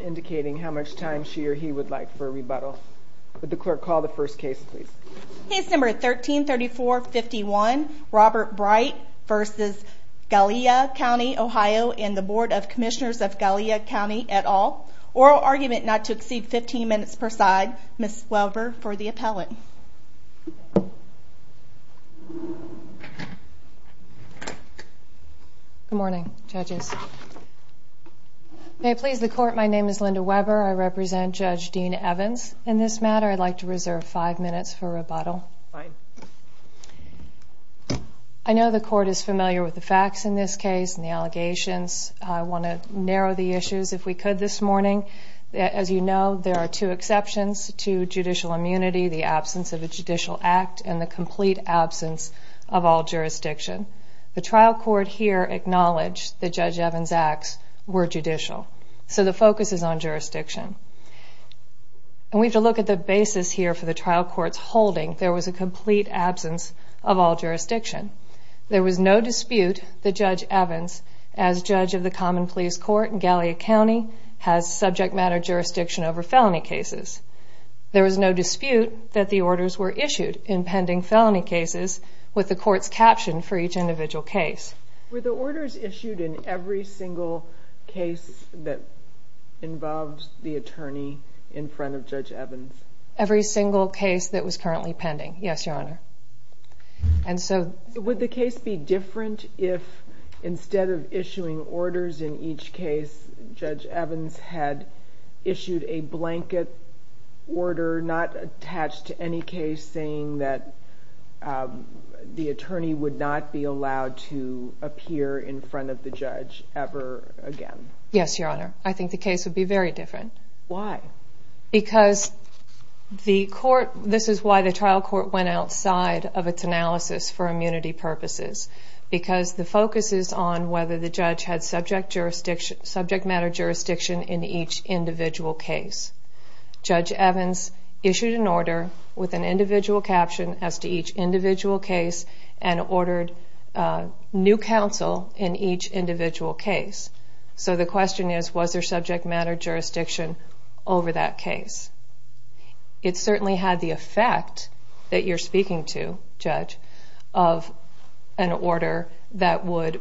indicating how much time she or he would like for a rebuttal. Would the clerk call the first case, please? Case number 13-3451, Robert Bright v. Gallia County Ohio and the Board of Commissioners of Gallia County et al. Oral argument not to exceed 15 minutes per side. Ms. Welver for the appellant. Good morning, judges. May it please the court, my name is Linda Weber. I represent Judge Dean Evans. In this matter, I'd like to reserve five minutes for rebuttal. I know the court is familiar with the facts in this case and the allegations. I want to narrow the issues if we could this morning. As you know, there are two exceptions to judicial immunity, the absence of a judicial act, and the complete absence of all jurisdiction. The trial court here acknowledged that Judge Evans' acts were judicial. So the focus is on jurisdiction. And we have to look at the basis here for the trial court's holding. There was a complete absence of all jurisdiction. There was no dispute that Judge Evans, as judge of the common police court in Gallia County, has subject matter jurisdiction over felony cases. There was no dispute that the orders were issued in pending felony cases with the court's caption for each individual case. Were the orders issued in every single case that involved the attorney in front of Judge Evans? Every single case that was currently pending, yes, your honor. Would the case be different if instead of issuing orders in each case, Judge Evans had issued a blanket order not attached to any case saying that the attorney would not be allowed to appear in front of the judge ever again? Yes, your honor. I think the case would be very different. This is why the trial court went outside of its analysis for immunity purposes, because the focus is on whether the judge had subject matter jurisdiction in each individual case. Judge Evans issued an order with an individual caption as to each individual case and ordered new counsel in each individual case. So the question is, was there subject matter jurisdiction over that case? It certainly had the effect that you're speaking to, judge, of an order that would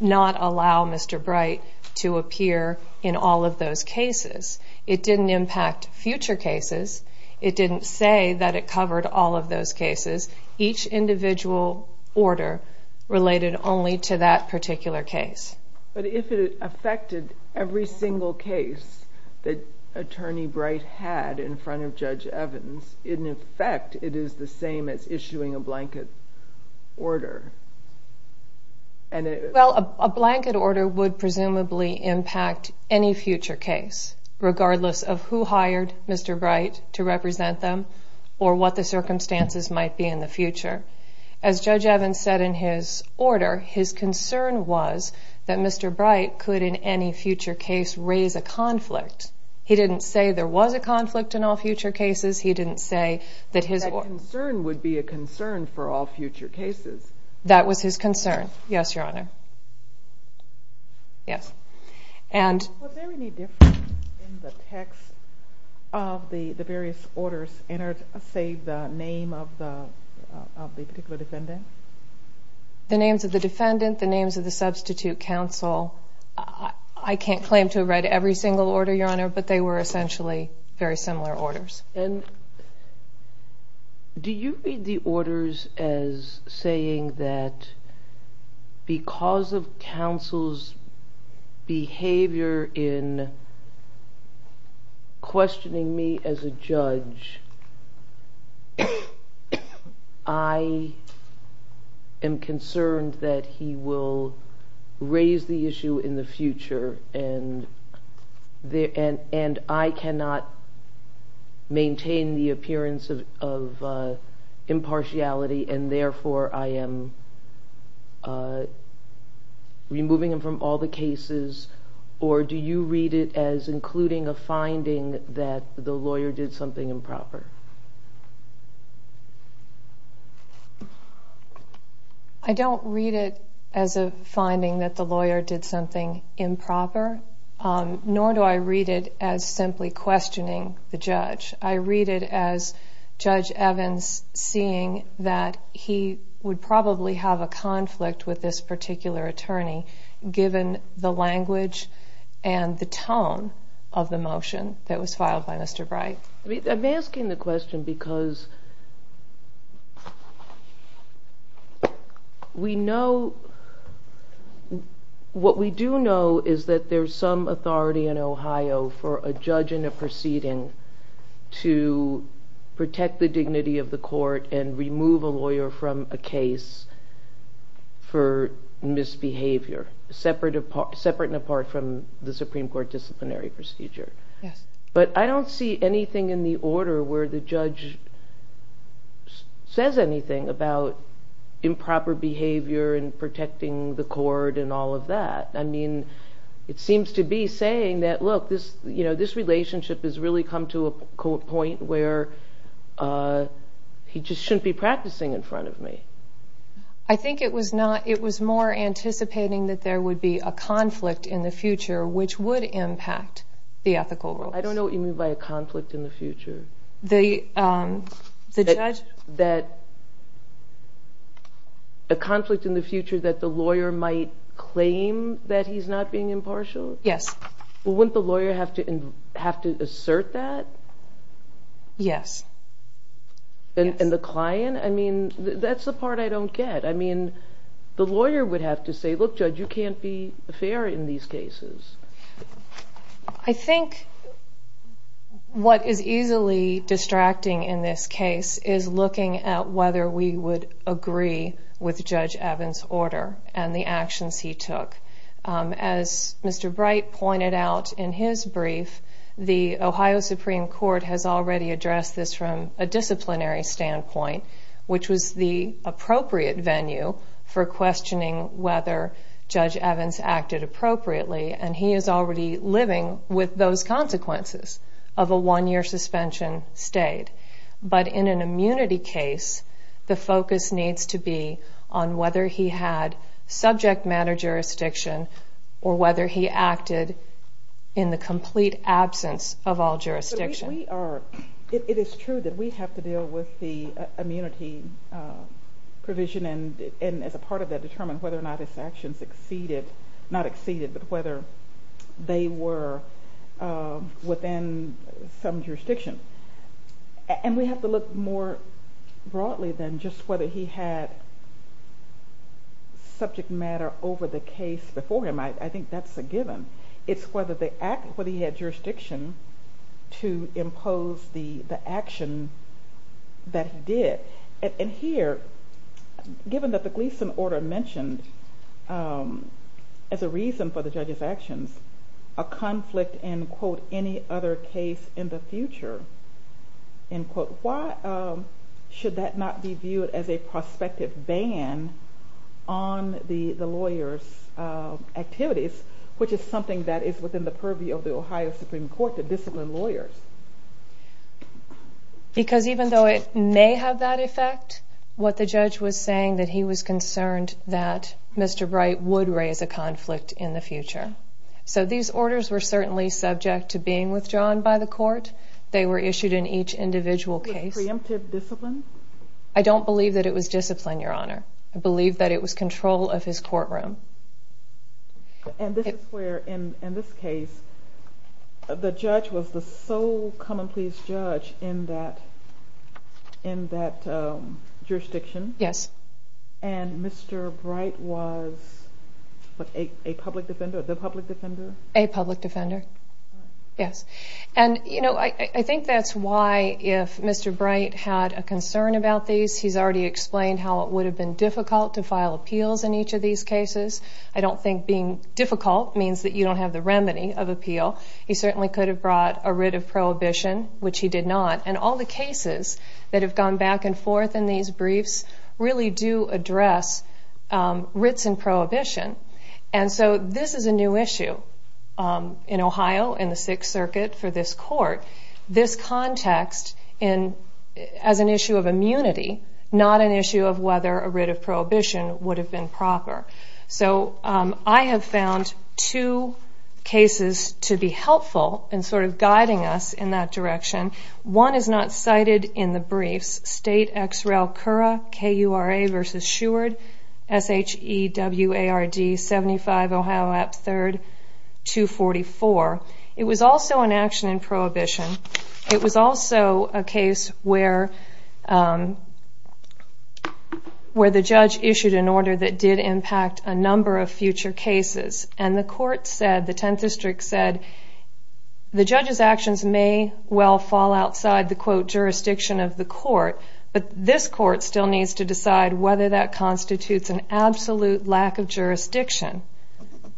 not allow Mr. Bright to appear in all of those cases. It didn't impact future cases. It didn't say that it covered all of those cases. Each individual order related only to that particular case. But if it affected every single case that attorney Bright had in front of Judge Evans, in effect it is the same as issuing a blanket order. Well, a blanket order would presumably impact any future case, regardless of who hired Mr. Bright to represent them, or what the circumstances might be in the future. As Judge Evans said in his order, his concern was that Mr. Bright could in any future case raise a conflict. He didn't say there was a conflict in all future cases. That concern would be a concern for all future cases. That was his concern. Yes, Your Honor. Was there any difference in the text of the various orders, say the name of the particular defendant? The names of the defendant, the names of the substitute counsel. I can't claim to have read every single order, Your Honor, but they were essentially very similar orders. Do you read the orders as saying that because of counsel's behavior in questioning me as a judge, I am concerned that he will raise the issue in the future, and I cannot maintain the appearance of impartiality, and therefore I am removing him from all the cases? Or do you read it as including a finding that the lawyer did something improper? I don't read it as a finding that the lawyer did something improper, nor do I read it as simply questioning the judge. I read it as Judge Evans seeing that he would probably have a conflict with this particular attorney, given the language and the tone of the motion that was filed by Mr. Bright. I'm asking the question because we know, what we do know is that there's some authority in Ohio for a judge in a proceeding to protect the dignity of the court and remove a lawyer from a case for misbehavior. Separate and apart from the Supreme Court disciplinary procedure. But I don't see anything in the order where the judge says anything about improper behavior and protecting the court and all of that. It seems to be saying that, look, this relationship has really come to a point where he just shouldn't be practicing in front of me. I think it was more anticipating that there would be a conflict in the future, which would impact the ethical rules. I don't know what you mean by a conflict in the future. A conflict in the future that the lawyer might claim that he's not being impartial? Yes. Wouldn't the lawyer have to assert that? Yes. And the client? That's the part I don't get. I mean, the lawyer would have to say, look, judge, you can't be fair in these cases. I think what is easily distracting in this case is looking at whether we would agree with Judge Evans' order and the actions he took. As Mr. Bright pointed out in his brief, the Ohio Supreme Court has already addressed this from a disciplinary standpoint, which was the appropriate venue for questioning whether Judge Evans acted appropriately. And he is already living with those consequences of a one-year suspension state. But in an immunity case, the focus needs to be on whether he had subject matter jurisdiction or whether he acted in the complete absence of all jurisdiction. It is true that we have to deal with the immunity provision and as a part of that determine whether or not his actions exceeded, not exceeded, but whether they were within some jurisdiction. And we have to look more broadly than just whether he had subject matter over the case before him. I think that's a given. It's whether he had jurisdiction to impose the action that he did. And here, given that the Gleason order mentioned as a reason for the judge's actions, a conflict in, quote, any other case in the future, end quote, why should that not be viewed as a prospective ban on the lawyer's activities, which is something that is within the purview of the Ohio Supreme Court to discipline lawyers? Because even though it may have that effect, what the judge was saying that he was concerned that Mr. Bright would raise a conflict in the future. So these orders were certainly subject to being withdrawn by the court. They were issued in each individual case. I don't believe that it was discipline, Your Honor. I believe that it was control of his courtroom. And this is where, in this case, the judge was the sole common pleas judge in that jurisdiction. And Mr. Bright was a public defender? A public defender, yes. And, you know, I think that's why if Mr. Bright had a concern about these, he's already explained how it would have been difficult to file appeals in each of these cases. I don't think being difficult means that you don't have the remedy of appeal. He certainly could have brought a writ of prohibition, which he did not. And all the cases that have gone back and forth in these briefs really do address writs and prohibition. And so this is a new issue in Ohio, in the Sixth Circuit, for this court. This context as an issue of immunity, not an issue of whether a writ of prohibition would have been proper. So I have found two cases to be helpful in sort of guiding us in that direction. One is not cited in the briefs, State Ex Rel Cura, K-U-R-A v. Sheward, S-H-E-W-A-R-D, 75 Ohio App 3rd, 244. It was also an action in prohibition. It was also a case where the judge issued an order that did impact a number of future cases. And the court said, the Tenth District said, the judge's actions may well fall outside the, quote, jurisdiction of the court, but this court still needs to decide whether that constitutes an absolute lack of jurisdiction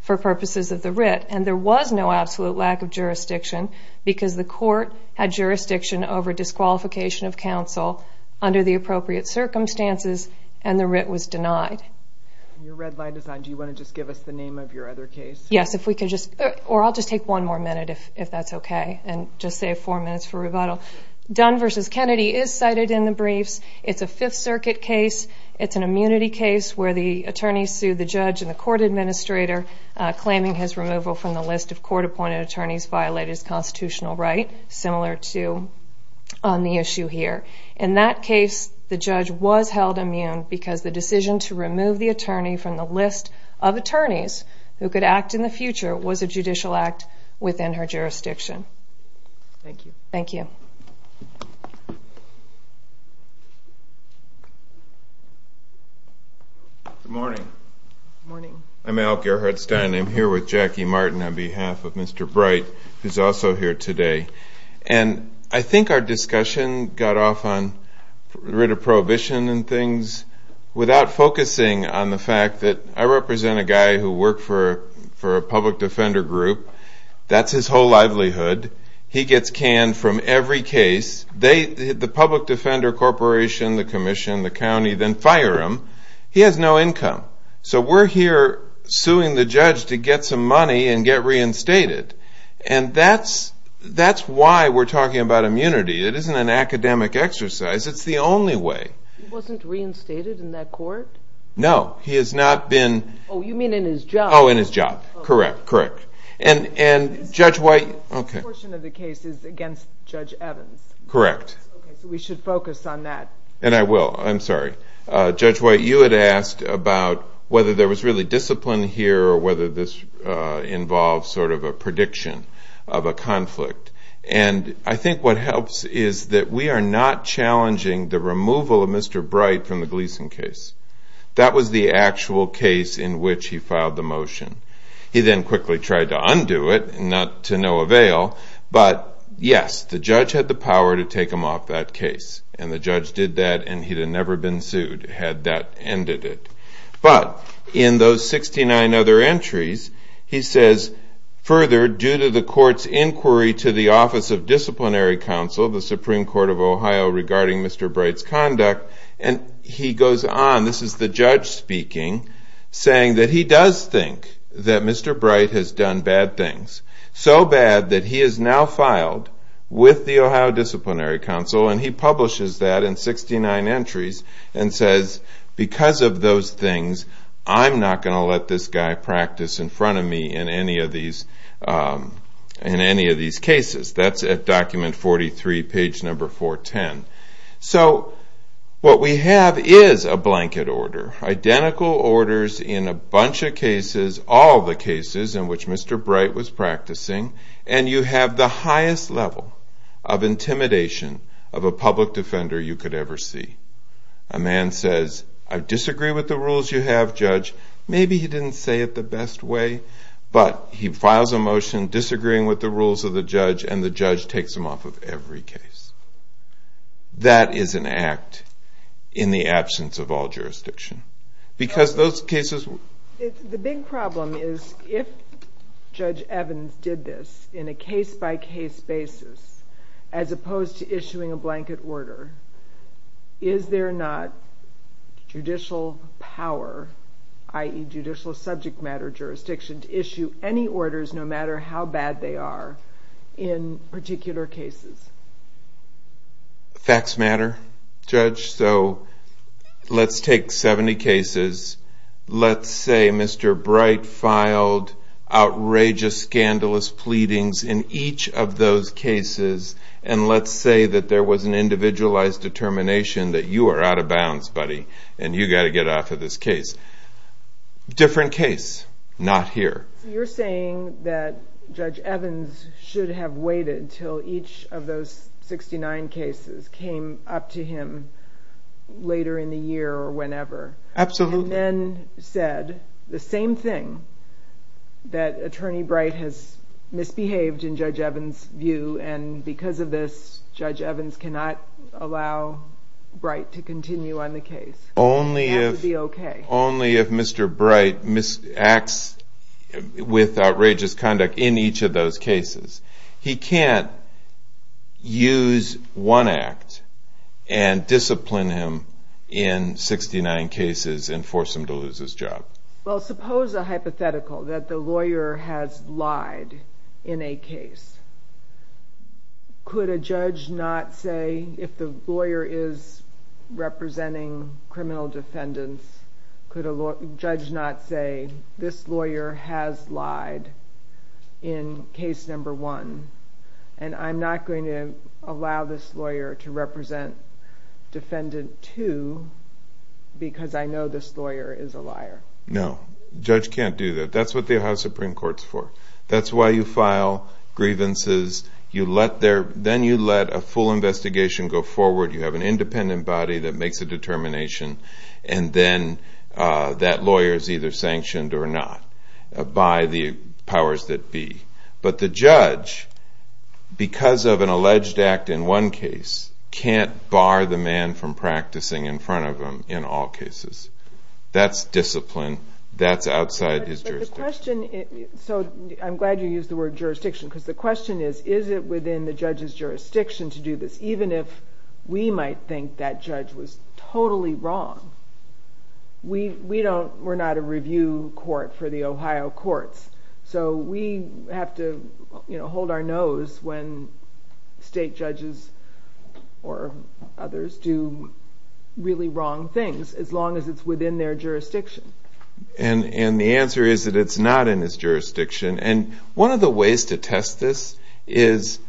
for purposes of the writ. And there was no absolute lack of jurisdiction because the court had jurisdiction over disqualification of counsel under the appropriate circumstances, and the writ was denied. Your red line is on. Do you want to just give us the name of your other case? Yes, or I'll just take one more minute, if that's okay, and just save four minutes for rebuttal. Dunn v. Kennedy is cited in the briefs. It's a Fifth Circuit case. It's an immunity case where the attorney sued the judge and the court administrator, claiming his removal from the list of court-appointed attorneys violated his constitutional right, similar to on the issue here. In that case, the judge was held immune because the decision to remove the attorney from the list of attorneys who could act in the future was a judicial act within her jurisdiction. Thank you. Good morning. I'm Al Gerhardstein. I'm here with Jackie Martin on behalf of Mr. Bright, who's also here today. And I think our discussion got off on writ of prohibition and things without focusing on the fact that I represent a guy who worked for a public defender group. That's his whole livelihood. He gets canned from every case. The public defender corporation, the commission, the county, then fire him. He has no income. So we're here suing the judge to get some money and get reinstated. And that's why we're talking about immunity. It isn't an academic exercise. It's the only way. He wasn't reinstated in that court? No. He has not been... Oh, you mean in his job. Oh, in his job. Correct. And Judge White... This portion of the case is against Judge Evans. Correct. So we should focus on that. And I will. I'm sorry. Judge White, you had asked about whether there was really discipline here or whether this involves sort of a prediction of a conflict. And I think what helps is that we are not challenging the removal of Mr. Bright from the Gleason case. That was the actual case in which he filed the motion. He then quickly tried to undo it, to no avail. But, yes, the judge had the power to take him off that case. And the judge did that, and he'd have never been sued had that ended it. But, in those 69 other entries, he says, further, due to the court's inquiry to the Office of Disciplinary Counsel, the Supreme Court of Ohio, regarding Mr. Bright's conduct, and he goes on, this is the judge speaking, saying that he does think that Mr. Bright has done bad things. So bad that he has now filed with the Ohio Disciplinary Counsel, and he publishes that in 69 entries, and says, because of those things, I'm not going to let this guy practice in front of me in any of these cases. That's at document 43, page number 410. So, what we have is a blanket order. Identical orders in a bunch of cases, all the cases in which Mr. Bright was practicing, and you have the highest level of intimidation of a public defender you could ever see. A man says, I disagree with the rules you have, Judge. Maybe he didn't say it the best way, but he files a motion disagreeing with the rules of the judge, and the judge takes him off of every case. That is an act in the absence of all jurisdiction, because those cases... The big problem is, if Judge Evans did this in a case-by-case basis, as opposed to issuing a blanket order, is there not judicial power, i.e. judicial subject matter jurisdiction, to issue any orders, no matter how bad they are, in particular cases? Facts matter, Judge, so let's take 70 cases. Let's say Mr. Bright filed outrageous, scandalous pleadings in each of those cases, and let's say that there was an individualized determination that you are out of bounds, buddy, and you've got to get off of this case. Different case, not here. You're saying that Judge Evans should have waited until each of those 69 cases came up to him later in the year, or whenever. Absolutely. And then said the same thing, that Attorney Bright has misbehaved in Judge Evans' view, and because of this, Judge Evans cannot allow Bright to continue on the case. Only if... With outrageous conduct in each of those cases. He can't use one act and discipline him in 69 cases and force him to lose his job. Well, suppose a hypothetical, that the lawyer has lied in a case. Could a judge not say, if the lawyer is representing criminal defendants, could a judge not say, this lawyer has lied in case number one, and I'm not going to allow this lawyer to represent defendant two, because I know this lawyer is a liar? No. Judge can't do that. That's what the Ohio Supreme Court's for. That's why you file grievances, then you let a full investigation go forward, you have an independent body that makes a determination, and then that lawyer is either sanctioned or not, by the powers that be. But the judge, because of an alleged act in one case, can't bar the man from practicing in front of him in all cases. That's discipline. That's outside his jurisdiction. So I'm glad you used the word jurisdiction, because the question is, is it within the judge's jurisdiction to do this, even if we might think that judge was totally wrong? We're not a review court for the Ohio courts, so we have to hold our nose when state judges or others do really wrong things, as long as it's within their jurisdiction. And the answer is that it's not in his jurisdiction. And one of the ways to test this is,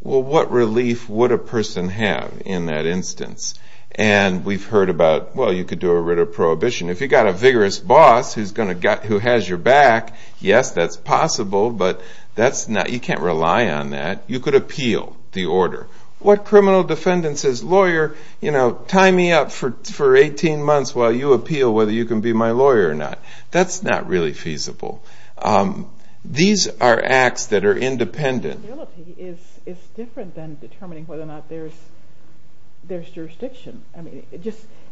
well, what relief would a person have in that instance? And we've heard about, well, you could do a writ of prohibition. If you've got a vigorous boss who has your back, yes, that's possible, but you can't rely on that. You could appeal the order. What criminal defendant says, lawyer, you know, tie me up for 18 months while you appeal whether you can be my lawyer or not. That's not really feasible. These are acts that are independent. It's different than determining whether or not there's jurisdiction.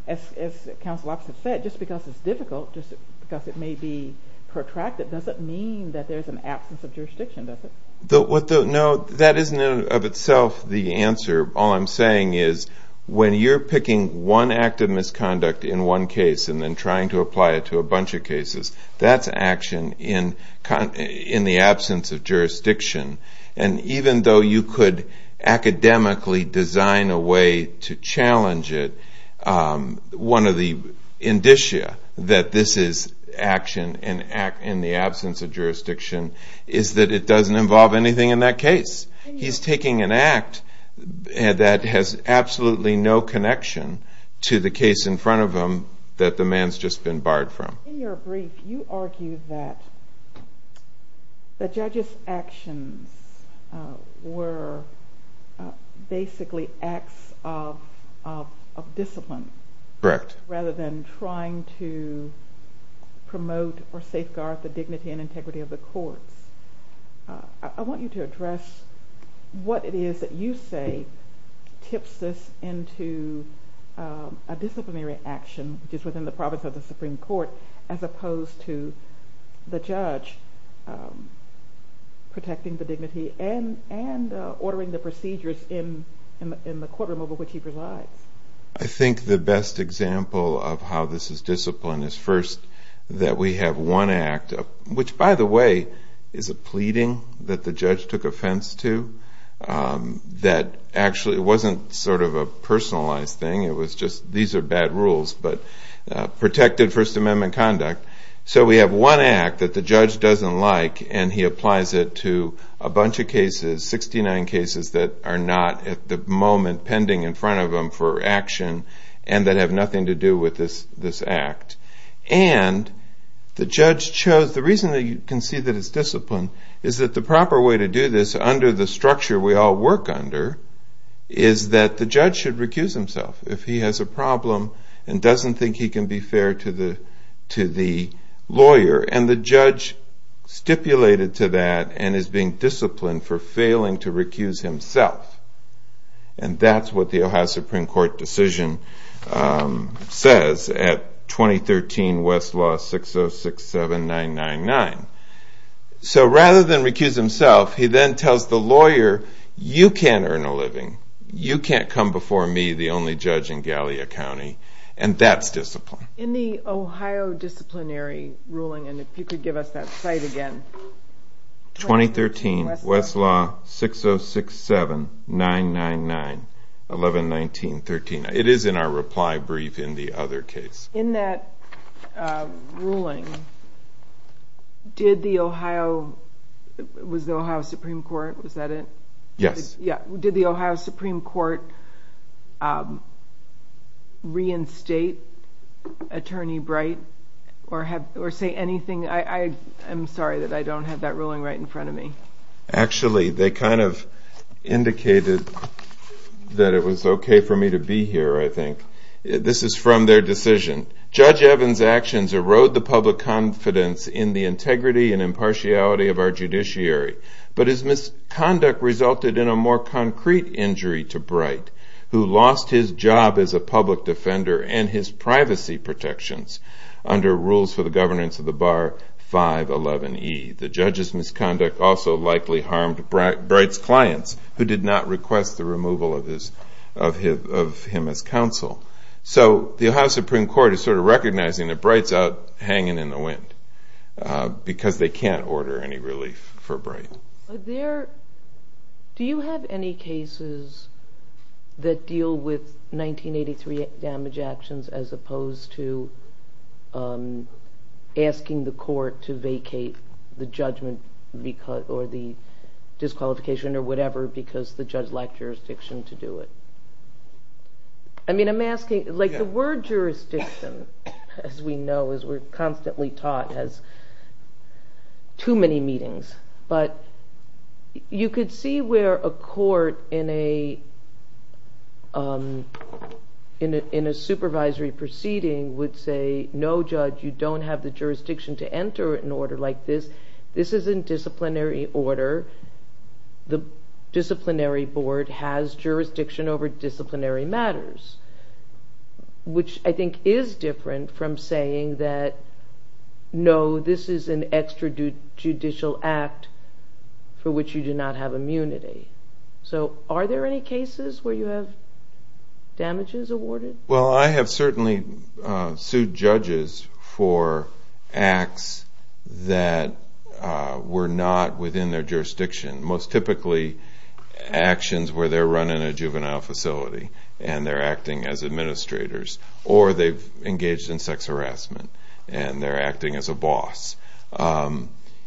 As counsel opposite said, just because it's difficult, just because it may be protracted, doesn't mean that there's an absence of jurisdiction, does it? No, that isn't of itself the answer. All I'm saying is when you're picking one act of misconduct in one case and then trying to apply it to a bunch of cases, that's action in the absence of jurisdiction. And even though you could academically design a way to challenge it, one of the indicia that this is action in the absence of jurisdiction is that it doesn't involve anything in that case. He's taking an act that has absolutely no connection to the case in front of him that the man's just been barred from. In your brief, you argue that the judge's actions were basically acts of discipline. Correct. Rather than trying to promote or safeguard the dignity and integrity of the courts. I want you to address what it is that you say tips us into a disciplinary action which is within the province of the Supreme Court as opposed to the judge protecting the dignity and ordering the procedures in the courtroom over which he presides. I think the best example of how this is disciplined is first that we have one act which, by the way, is a pleading that the judge took offense to that actually wasn't sort of a personalized thing. It was just, these are bad rules, but protected First Amendment conduct. So we have one act that the judge doesn't like and he applies it to a bunch of cases, 69 cases that are not at the moment pending in front of him for action and that have nothing to do with this act. And the judge chose, the reason that you can see that it's disciplined is that the proper way to do this under the structure we all work under is that the judge should recuse himself if he has a problem and doesn't think he can be fair to the lawyer and the judge stipulated to that and is being disciplined for failing to recuse himself. And that's what the Ohio Supreme Court decision says at 2013 Westlaw 6067999. So rather than recuse himself, he then tells the lawyer, you can't earn a living you can't come before me, the only judge in Gallia County and that's disciplined. In the Ohio disciplinary ruling and if you could give us that site again. 2013 Westlaw 6067999 11-19-13. It is in our reply brief in the other case. In that ruling did the Ohio, was the Ohio Supreme Court was that it? Yes. Did the Ohio Supreme Court reinstate Attorney Bright or say anything? I'm sorry that I don't have that ruling right in front of me. Actually they kind of that it was okay for me to be here I think. This is from their decision. Judge Evans actions erode the public confidence in the integrity and impartiality of our judiciary but his misconduct resulted in a more concrete injury to Bright who lost his job as a public defender and his privacy protections under rules for the governance of the Bar 511E. The judge's misconduct also likely harmed Bright's clients who did not request the removal of him as counsel. So the Ohio Supreme Court is sort of recognizing that Bright's out hanging in the wind because they can't order any relief for Bright. Do you have any cases that deal with 1983 damage actions as opposed to asking the court to vacate the judgment or the order because the judge lacked jurisdiction to do it? I mean I'm asking, like the word jurisdiction as we know as we're constantly taught has too many meetings but you could see where a court in a supervisory proceeding would say no judge you don't have the jurisdiction to enter an order like this. This is in disciplinary order the disciplinary board has jurisdiction over disciplinary matters which I think is different from saying that no this is an extrajudicial act for which you do not have immunity. So are there any cases where you have damages awarded? Well I have certainly sued judges for acts that were not within their jurisdiction. Most typically actions where they're running a juvenile facility and they're acting as administrators or they've engaged in sex harassment and they're acting as a boss.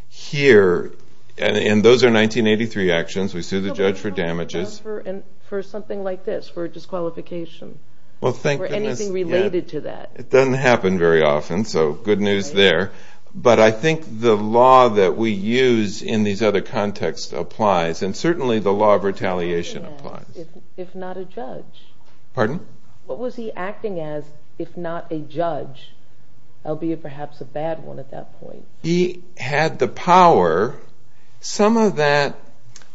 Here and those are 1983 actions we sue the judge for damages for something like this for disqualification or anything related to that. It doesn't happen very often so good news there but I think the law that we use in these other contexts applies and certainly the law of retaliation applies. If not a judge. Pardon? What was he acting as if not a judge? Albeit perhaps a bad one at that point. He had the power. Some of that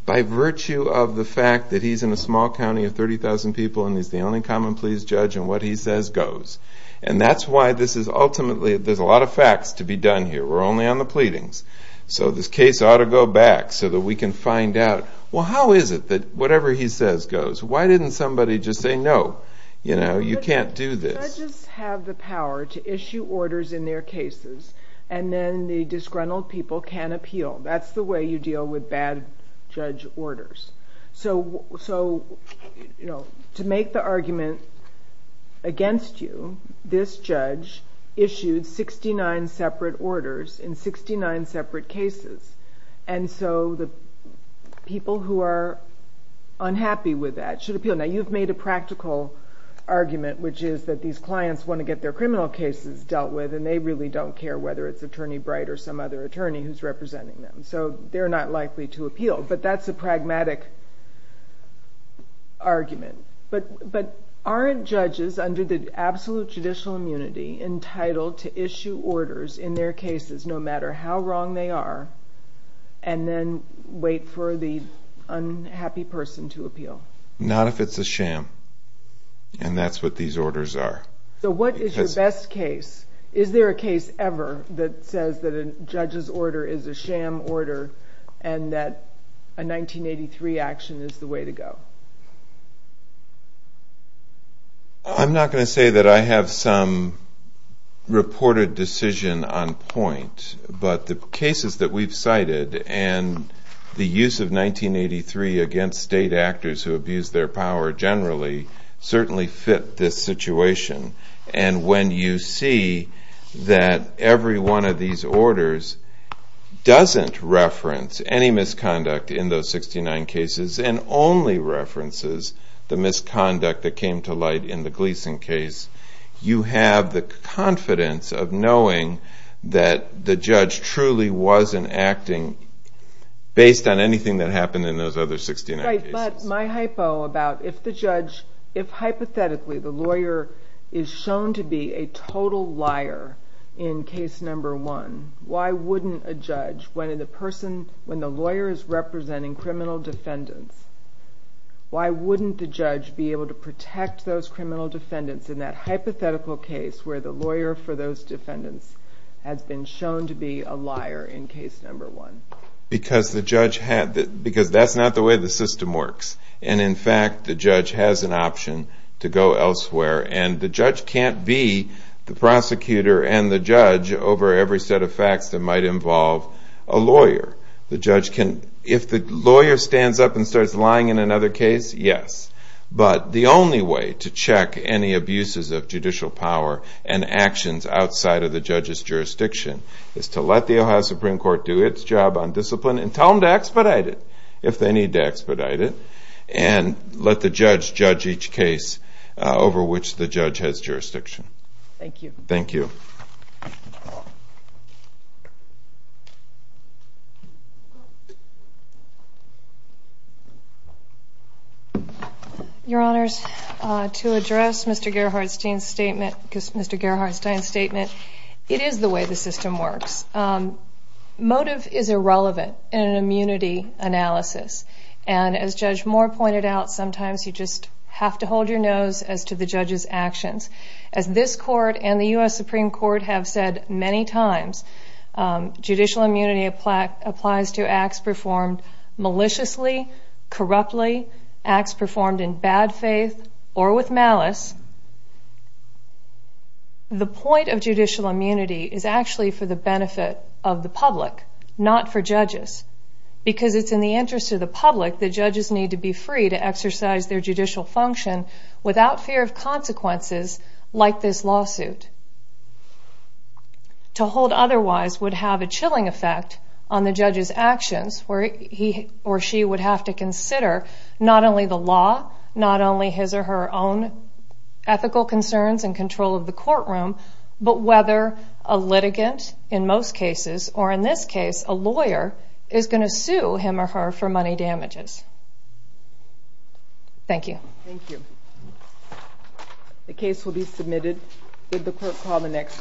by virtue of the fact that he's in a small county of 30,000 people and he's the only common pleas judge and what he says goes. And that's why this is ultimately there's a lot of facts to be done here. We're only on the pleadings. So this case ought to go back so that we can find out well how is it that whatever he says goes? Why didn't somebody just say no? You can't do this. Judges have the power to issue orders in their cases and then the disgruntled people can appeal. That's the way you deal with bad judge orders. So to make the argument against you, this judge issued 69 separate orders in 69 separate cases and so the people who are unhappy with that should appeal. Now you've made a practical argument which is that these clients want to get their criminal cases dealt with and they really don't care whether it's Attorney Bright or some other attorney who's representing them. So they're not likely to appeal. But that's a pragmatic argument. But aren't judges under the absolute judicial immunity entitled to issue orders in their cases no matter how wrong they are and then wait for the unhappy person to appeal? Not if it's a sham. And that's what these orders are. So what is your best case? Is there a case ever that says that a judge's order is a sham order and that a 1983 action is the way to go? I'm not going to say that I have some reported decision on point but the cases that we've cited and the use of 1983 against state actors who abused their power generally certainly fit this situation. And when you see that every one of these orders doesn't reference any misconduct in those 69 cases and only references the misconduct that came to light in the Gleason case, you have the confidence of knowing that the judge truly wasn't acting based on anything that happened in those other 69 cases. But my hypo about if hypothetically the lawyer is shown to be a total liar in case number one, why wouldn't a judge when the lawyer is representing criminal defendants, why wouldn't the judge be able to protect those criminal defendants in that hypothetical case where the lawyer for those defendants has been shown to be a liar in case number one? Because that's not the way the system works. And in fact the judge has an option to go elsewhere. And the judge can't be the prosecutor and the judge over every set of facts that might involve a lawyer. If the lawyer stands up and starts lying in another case, yes. But the only way to check any abuses of judicial power and actions outside of the judge's jurisdiction is to let the Ohio Supreme Court do its job on discipline and tell them to expedite it if they need to expedite it and let the judge judge each case over which the judge has jurisdiction. Thank you. Your Honors, to address Mr. Gerhardstein's statement, it is the way the system works. Motive is irrelevant in an immunity analysis. And as Judge Moore pointed out, sometimes you just have to hold your nose as to the judge's actions. As this court and the U.S. Supreme Court have said many times, judicial immunity applies to acts performed maliciously, corruptly, acts performed in bad faith or with malice. The point of judicial immunity is actually for the benefit of the public, not for judges. Because it's in the interest of the public that judges need to be free to exercise their judicial function without fear of consequences like this lawsuit. To hold otherwise would have a chilling effect on the judge's actions where he or she would have to consider not only the law, not only his or her own ethical concerns and control of the courtroom, but whether a litigant, in most cases, or in this case, a lawyer is going to sue him or her for money damages. Thank you. Thank you. The case will be submitted. Did the court call the next?